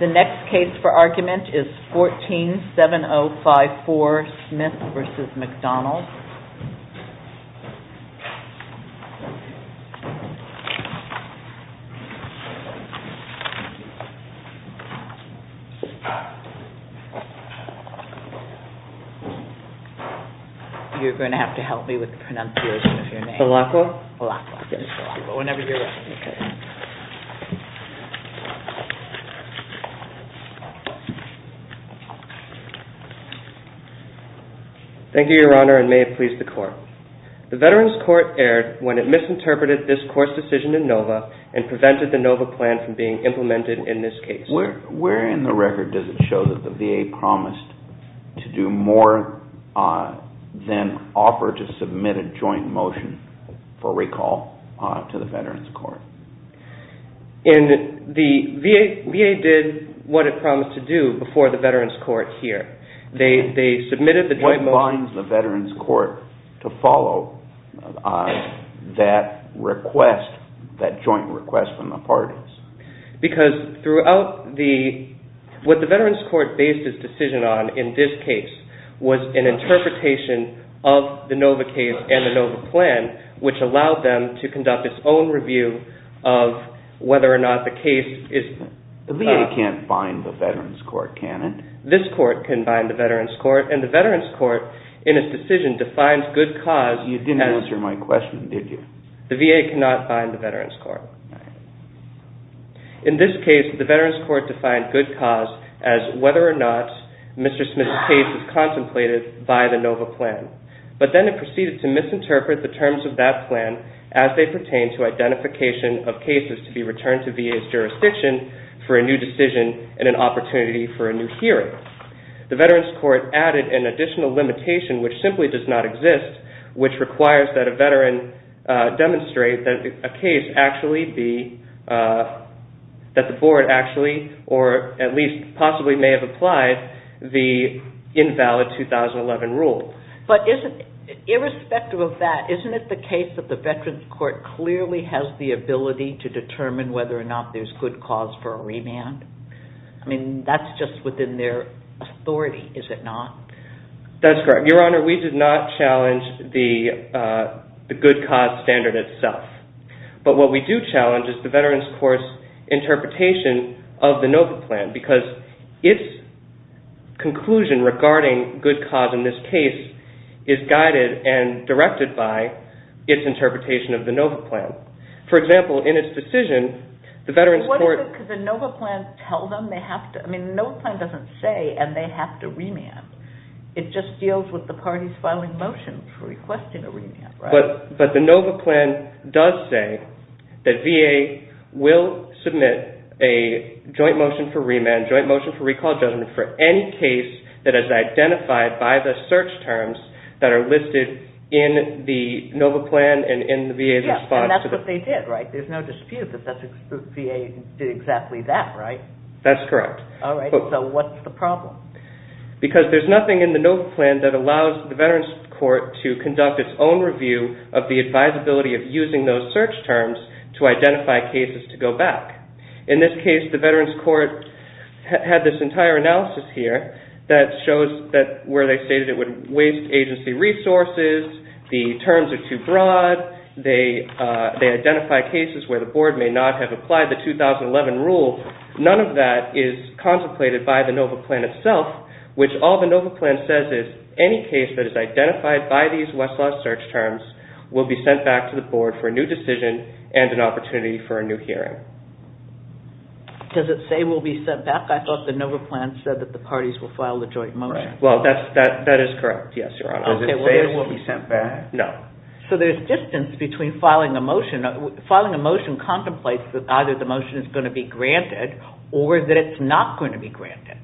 The next case for argument is 14-7054 Smith v. McDonald You're going to have to help me with the pronunciation of your name. Thank you, Your Honor, and may it please the Court. The Veterans Court erred when it misinterpreted this Court's decision in NOVA and prevented the NOVA plan from being implemented in this case. Where in the record does it show that the VA promised to do more than offer to submit a joint motion for recall to the Veterans Court? The VA did what it promised to do before the Veterans Court here. They submitted the joint motion. What binds the Veterans Court to follow that request, that joint request from the parties? Because what the Veterans Court based its decision on in this case was an interpretation of the NOVA case and the NOVA plan, which allowed them to conduct its own review of whether or not the case is... The VA can't bind the Veterans Court, can it? This Court can bind the Veterans Court, and the Veterans Court, in its decision, defines good cause as... You didn't answer my question, did you? The VA cannot bind the Veterans Court. In this case, the Veterans Court defined good cause as whether or not Mr. Smith's case is contemplated by the NOVA plan, but then it proceeded to misinterpret the terms of that plan as they pertain to identification of cases to be returned to VA's jurisdiction for a new decision and an opportunity for a new hearing. The Veterans Court added an additional limitation, which simply does not exist, which requires that a Veteran demonstrate that a case actually be... That the Board actually, or at least possibly, may have applied the invalid 2011 rule. But irrespective of that, isn't it the case that the Veterans Court clearly has the ability to determine whether or not there's good cause for a remand? I mean, that's just within their authority, is it not? That's correct. Your Honor, we did not challenge the good cause standard itself. But what we do challenge is the Veterans Court's interpretation of the NOVA plan, because its conclusion regarding good cause in this case is guided and directed by its interpretation of the NOVA plan. For example, in its decision, the Veterans Court... What is it? Because the NOVA plan tells them they have to... I mean, the NOVA plan doesn't say, and they have to remand. It just deals with the parties filing motions for requesting a remand, right? But the NOVA plan does say that VA will submit a joint motion for remand, joint motion for recall judgment for any case that is identified by the search terms that are listed in the NOVA plan and in the VA's response to the... Yes, and that's what they did, right? There's no dispute that VA did exactly that, right? That's correct. All right, so what's the problem? Because there's nothing in the NOVA plan that allows the Veterans Court to conduct its own review of the advisability of using those search terms to identify cases to go back. In this case, the Veterans Court had this entire analysis here that shows that where they stated it would waste agency resources, the terms are too broad, they identify cases where the board may not have applied the 2011 rule, none of that is contemplated by the NOVA plan itself, which all the NOVA plan says is any case that is identified by these Westlaw search terms will be sent back to the board for a new decision and an opportunity for a new hearing. Does it say will be sent back? I thought the NOVA plan said that the parties will file the joint motion. Well, that is correct, yes, Your Honor. Does it say it will be sent back? No. So there's distance between filing a motion. Filing a motion contemplates that either the motion is going to be granted or that it's not going to be granted.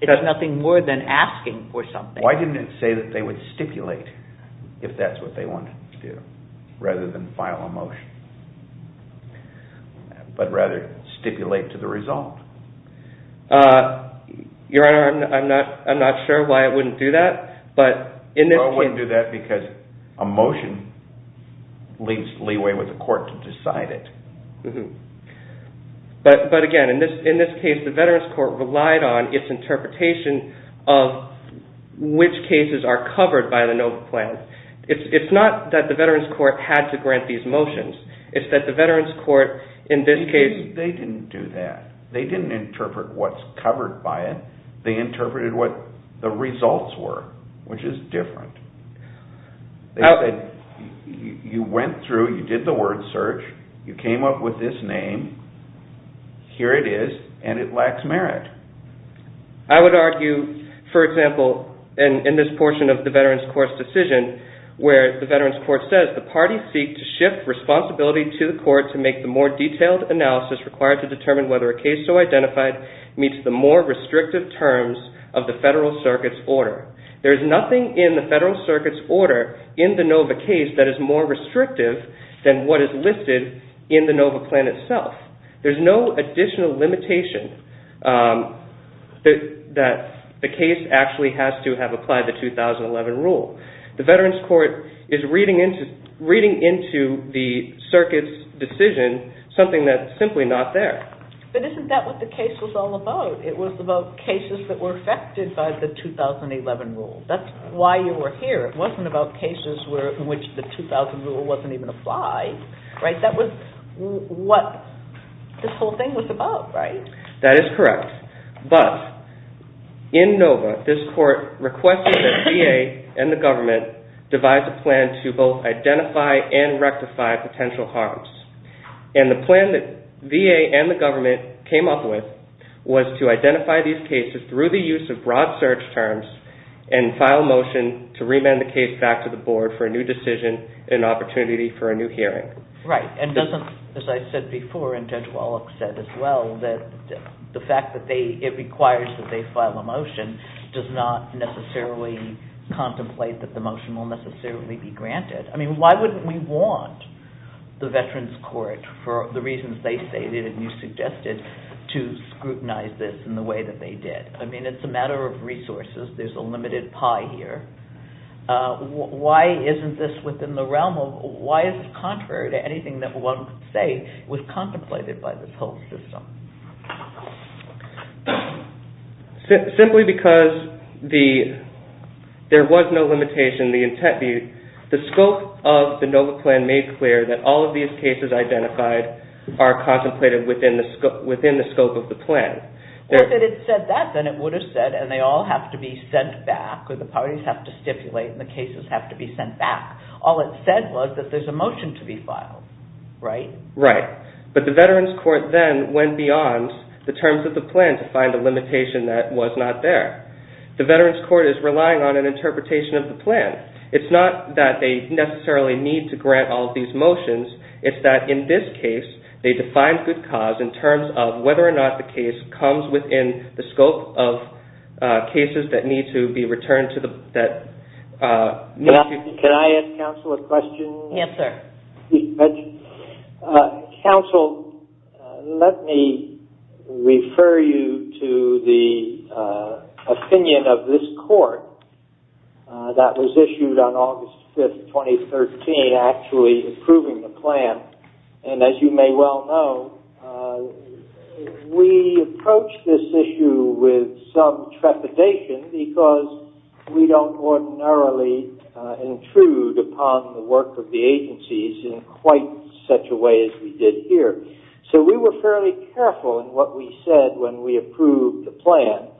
It's nothing more than asking for something. Why didn't it say that they would stipulate if that's what they wanted to do, rather than file a motion, but rather stipulate to the result? Your Honor, I'm not sure why it wouldn't do that, but in this case... No, it wouldn't do that because a motion leaves leeway with the court to decide it. But again, in this case, the Veterans Court relied on its interpretation of which cases are covered by the NOVA plan. It's not that the Veterans Court had to grant these motions. It's that the Veterans Court, in this case... They didn't do that. They didn't interpret what's covered by it. They interpreted what the results were, which is different. You went through, you did the word search, you came up with this name, here it is, and it lacks merit. I would argue, for example, in this portion of the Veterans Court's decision, where the Veterans Court says, the parties seek to shift responsibility to the court to make the more detailed analysis required to determine whether a case so identified meets the more restrictive terms of the Federal Circuit's order. There is nothing in the Federal Circuit's order in the NOVA case that is more restrictive than what is listed in the NOVA plan itself. There's no additional limitation that the case actually has to have applied the 2011 rule. The Veterans Court is reading into the Circuit's decision something that's simply not there. But isn't that what the case was all about? It was about cases that were affected by the 2011 rule. That's why you were here. It wasn't about cases in which the 2011 rule wasn't even applied. That was what this whole thing was about, right? That is correct. But, in NOVA, this court requested that the VA and the government devise a plan to both identify and rectify potential harms. And the plan that VA and the government came up with was to identify these cases through the use of broad search terms and file a motion to remand the case back to the board for a new decision and opportunity for a new hearing. Right. And doesn't, as I said before, and Judge Wallach said as well, that the fact that it requires that they file a motion does not necessarily contemplate that the motion will necessarily be granted. I mean, why wouldn't we want the Veterans Court, for the reasons they stated and you suggested, to scrutinize this in the way that they did? I mean, it's a matter of resources. There's a limited pie here. Why isn't this within the realm of, why is it contrary to anything that one could say was contemplated by this whole system? Simply because there was no limitation, the scope of the NOVA plan made clear that all of these cases identified are contemplated within the scope of the plan. Well, if it had said that, then it would have said, and they all have to be sent back, or the parties have to stipulate, and the cases have to be sent back. All it said was that there's a motion to be filed, right? Right. But the Veterans Court then went beyond the terms of the plan to find a limitation that was not there. The Veterans Court is relying on an interpretation of the plan. It's not that they necessarily need to grant all of these motions. It's that, in this case, they defined good cause in terms of whether or not the case comes within the scope of cases that need to be returned to the... Can I ask counsel a question? Answer. Counsel, let me refer you to the opinion of this court that was issued on August 5th, 2013, actually approving the plan. And as you may well know, we approached this issue with some trepidation because we don't ordinarily intrude upon the work of the agencies in quite such a way as we did here. So we were fairly careful in what we said when we approved the plan.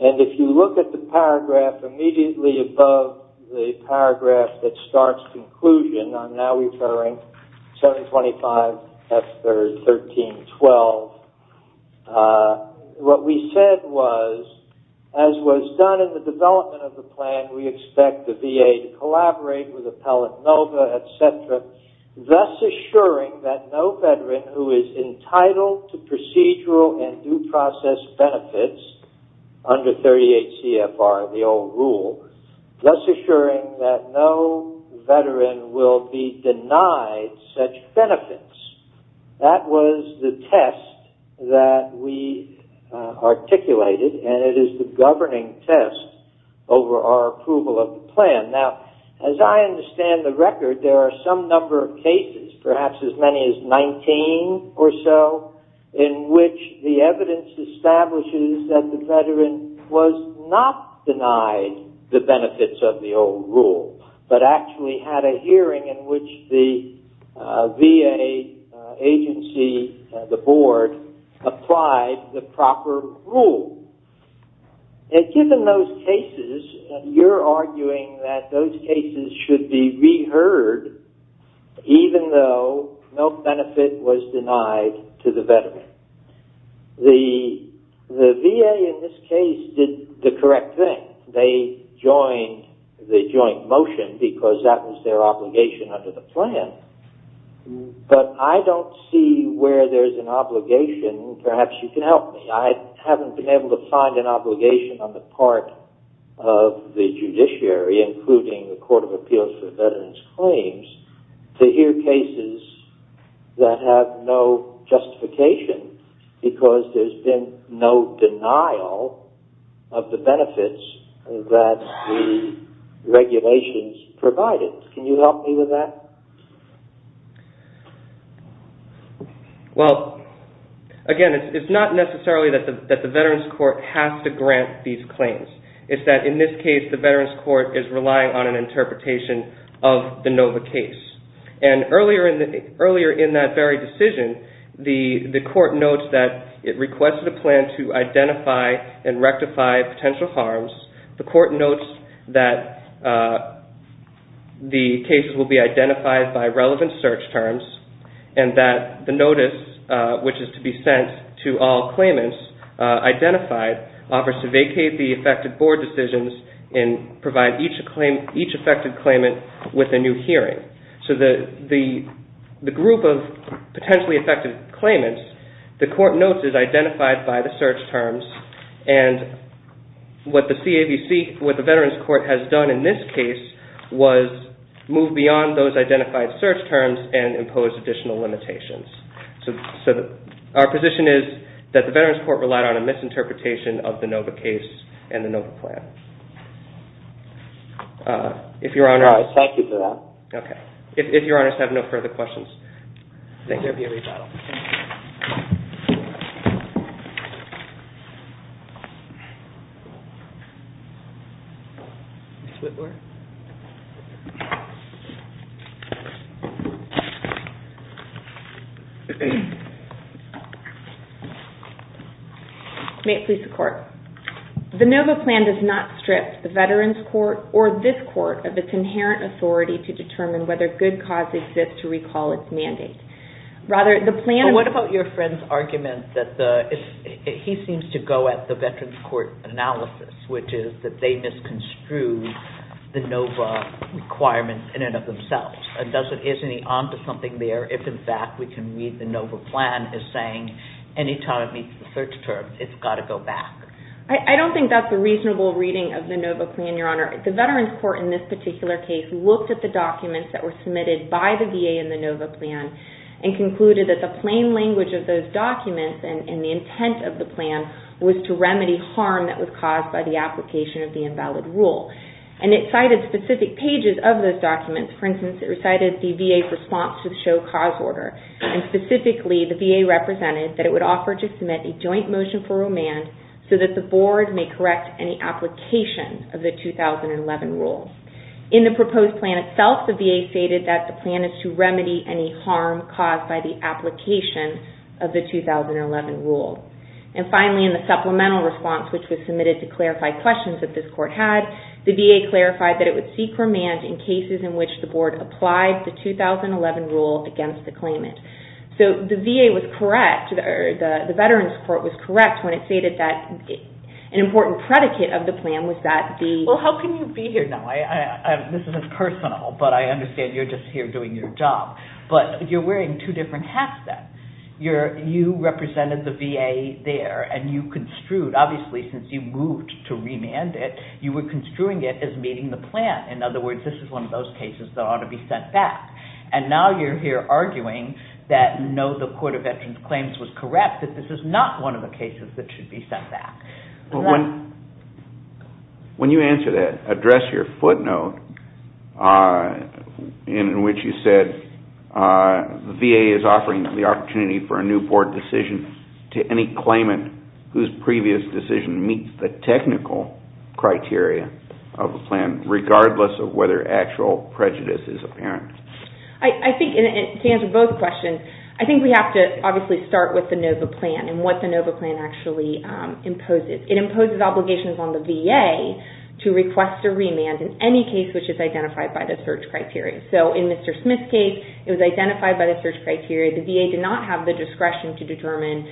And if you look at the paragraph immediately above the paragraph that starts conclusion, I'm now referring 725F13.12, what we said was, as was done in the development of the plan, we expect the VA to collaborate with Appellant Nova, etc., thus assuring that no Veteran who is entitled to procedural and due process benefits under 38 CFR, the old rule, thus assuring that no Veteran will be denied such benefits. That was the test that we articulated, and it is the governing test over our approval of the plan. Now, as I understand the record, there are some number of cases, perhaps as many as 19 or so, in which the evidence establishes that the Veteran was not denied the benefits of the old rule, but actually had a hearing in which the VA agency, the board, applied the proper rule. And given those cases, you're arguing that those cases should be reheard even though no benefit was denied to the Veteran. The VA in this case did the correct thing. They joined the joint motion because that was their obligation under the plan, but I don't see where there's an obligation. Perhaps you can help me. I haven't been able to find an obligation on the part of the judiciary, including the Court of Appeals for Veteran's Claims, to hear cases that have no justification because there's been no denial of the benefits that the regulations provided. Can you help me with that? Well, again, it's not necessarily that the Veterans Court has to grant these claims. It's that in this case, the Veterans Court is relying on an interpretation of the NOVA case. And earlier in that very decision, the court notes that it requested a plan to identify and rectify potential harms. The court notes that the cases will be identified by relevant search terms and that the notice, which is to be sent to all claimants identified, offers to vacate the affected board decisions and provide each affected claimant with a new hearing. So the group of potentially affected claimants, the court notes, is identified by the search terms, and what the Veterans Court has done in this case was move beyond those identified search terms and impose additional limitations. So our position is that the Veterans Court relied on a misinterpretation of the NOVA case and the NOVA plan. Thank you for that. Okay. If your honors have no further questions, I think there will be a rebuttal. May it please the court. The NOVA plan does not strip the Veterans Court or this court of its inherent authority to determine whether good cause exists to recall its mandate. Rather, the plan... But what about your friend's argument that he seems to go at the Veterans Court analysis, which is that they misconstrued the NOVA requirements in and of themselves? Isn't he on to something there if, in fact, we can read the NOVA plan as saying any time it meets the search terms, it's got to go back? I don't think that's a reasonable reading of the NOVA plan, your honor. The Veterans Court, in this particular case, looked at the documents that were submitted by the VA in the NOVA plan and concluded that the plain language of those documents and the intent of the plan was to remedy harm that was caused by the application of the invalid rule. And it cited specific pages of those documents. For instance, it recited the VA's response to the show cause order. And specifically, the VA represented that it would offer to submit a joint motion for the 2011 rule. In the proposed plan itself, the VA stated that the plan is to remedy any harm caused by the application of the 2011 rule. And finally, in the supplemental response, which was submitted to clarify questions that this court had, the VA clarified that it would seek remand in cases in which the board applied the 2011 rule against the claimant. So the VA was correct, or the Veterans Court was correct, when it stated that an important predicate of the plan was that the... Well, how can you be here now? This is personal, but I understand you're just here doing your job. But you're wearing two different hats then. You represented the VA there, and you construed, obviously, since you moved to remand it, you were construing it as meeting the plan. In other words, this is one of those cases that ought to be sent back. And now you're here arguing that no, the Court of Veterans Claims was correct, that this is not one of the cases that should be sent back. When you answer that, address your footnote in which you said, the VA is offering the opportunity for a new board decision to any claimant whose previous decision meets the technical criteria of the plan, regardless of whether actual prejudice is apparent. To answer both questions, I think we have to, obviously, start with the NOVA plan and what the NOVA plan actually imposes. It imposes obligations on the VA to request a remand in any case which is identified by the search criteria. So in Mr. Smith's case, it was identified by the search criteria. The VA did not have the discretion to determine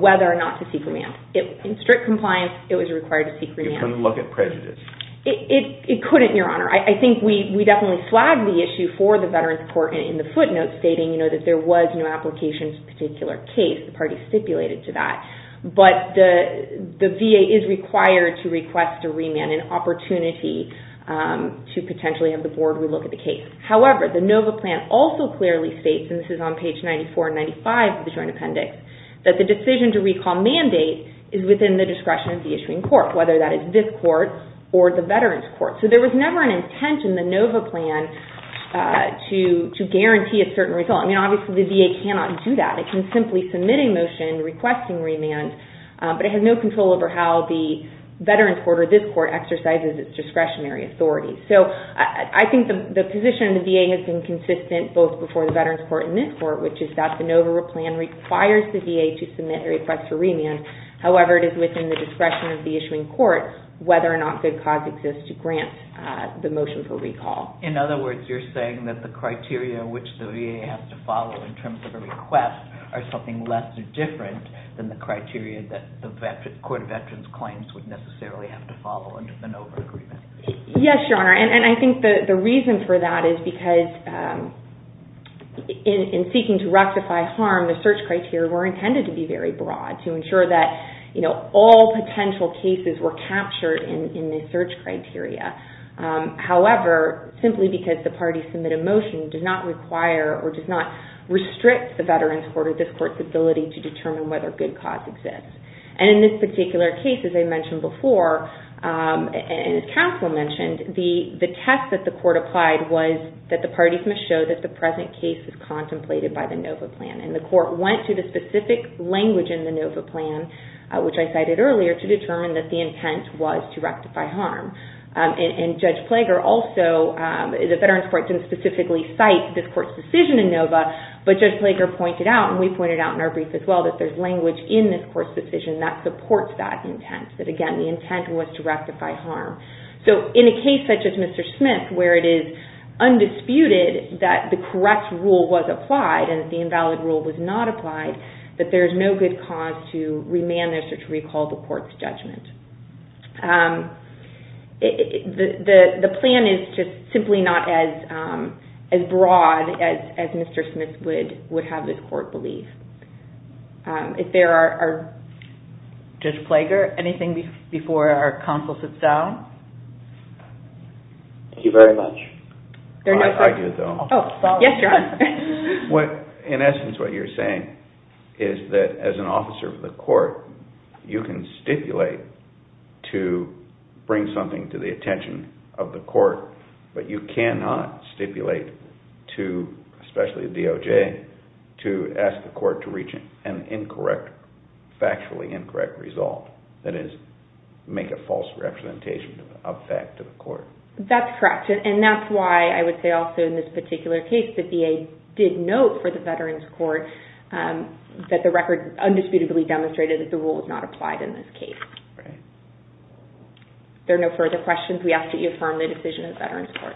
whether or not to seek remand. In strict compliance, it was required to seek remand. It couldn't look at prejudice. It couldn't, Your Honor. I think we definitely flagged the issue for the Veterans Court in the footnote, stating that there was no application to a particular case. The parties stipulated to that. But the VA is required to request a remand, an opportunity to potentially have the board relook at the case. However, the NOVA plan also clearly states, and this is on page 94 and 95 of the Joint Appendix, that the decision to recall mandate is within the discretion of the issuing court, whether that is this court or the Veterans Court. So there was never an intent in the NOVA plan to guarantee a certain result. I mean, obviously, the VA cannot do that. It can simply submit a motion requesting remand, but it has no control over how the Veterans Court or this court exercises its discretionary authority. So I think the position of the VA has been consistent both before the Veterans Court and this court, which is that the NOVA plan requires the VA to submit a request for remand. However, it is within the discretion of the issuing court whether or not good cause exists to grant the motion for recall. In other words, you're saying that the criteria which the VA has to follow in terms of a request are something less different than the criteria that the Veterans Court claims would necessarily have to follow under the NOVA agreement. Yes, Your Honor. And I think the reason for that is because in seeking to rectify harm, the search criteria were intended to be very broad to ensure that all potential cases were captured in the search criteria. However, simply because the parties submit a motion does not require or does not restrict the Veterans Court or this court's ability to determine whether good cause exists. And in this particular case, as I mentioned before, and as Caswell mentioned, the test that the court applied was that the parties must show that the present case is contemplated by the NOVA plan. And the court went to the specific language in the NOVA plan, which I cited earlier, to determine that the intent was to rectify harm. And Judge Plager also, the Veterans Court, didn't specifically cite this court's decision in NOVA, but Judge Plager pointed out, and we pointed out in our brief as well, that there's language in this court's decision that supports that intent. That again, the intent was to rectify harm. So in a case such as Mr. Smith, where it is undisputed that the correct rule was applied and the invalid rule was not applied, that there's no good cause to remand this or to recall the court's judgment. The plan is just simply not as broad as Mr. Smith would have this court believe. If there are... Judge Plager, anything before our counsel sits down? Thank you very much. I have an idea, though. Yes, John. In court, you can stipulate to bring something to the attention of the court, but you cannot stipulate to, especially the DOJ, to ask the court to reach an incorrect, factually incorrect result. That is, make a false representation of fact to the court. That's correct. And that's why I would say also in this particular case that VA did note for the Veterans Court that the record undisputably demonstrated that the rule was not applied in this case. Right. If there are no further questions, we ask that you affirm the decision of the Veterans Court.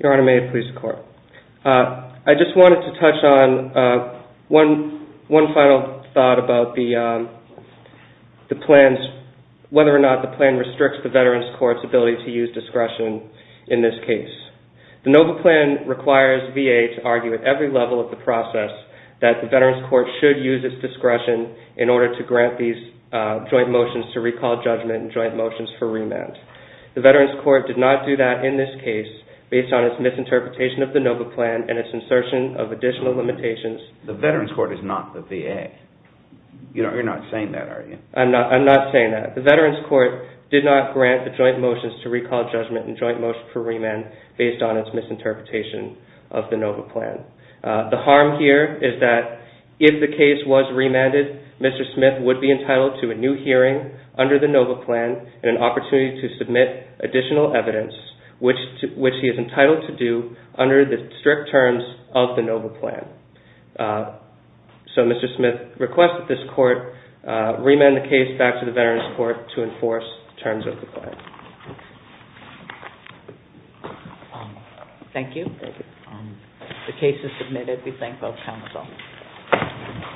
Your Honor, may it please the Court. I just wanted to touch on one final thought about the plans, whether or not the plan restricts the Veterans Court's ability to use discretion in this case. The NOVA plan requires VA to argue at every level of the process that the Veterans Court should use its discretion in order to grant these joint motions to recall judgment and joint motions for remand. The Veterans Court did not do that in this case based on its misinterpretation of the NOVA plan and its insertion of additional limitations. The Veterans Court is not the VA. You're not saying that, are you? I'm not saying that. The Veterans Court did not grant the joint motions to recall judgment and joint motions for remand based on its misinterpretation of the NOVA plan. The harm here is that if the case was remanded, Mr. Smith would be entitled to a new hearing under the NOVA plan and an opportunity to submit additional evidence which he is entitled to do under the strict terms of the NOVA plan. So Mr. Smith requests that this court remand the case back to the Veterans Court to enforce the terms of the plan. Thank you. The case is submitted. We thank both counsel.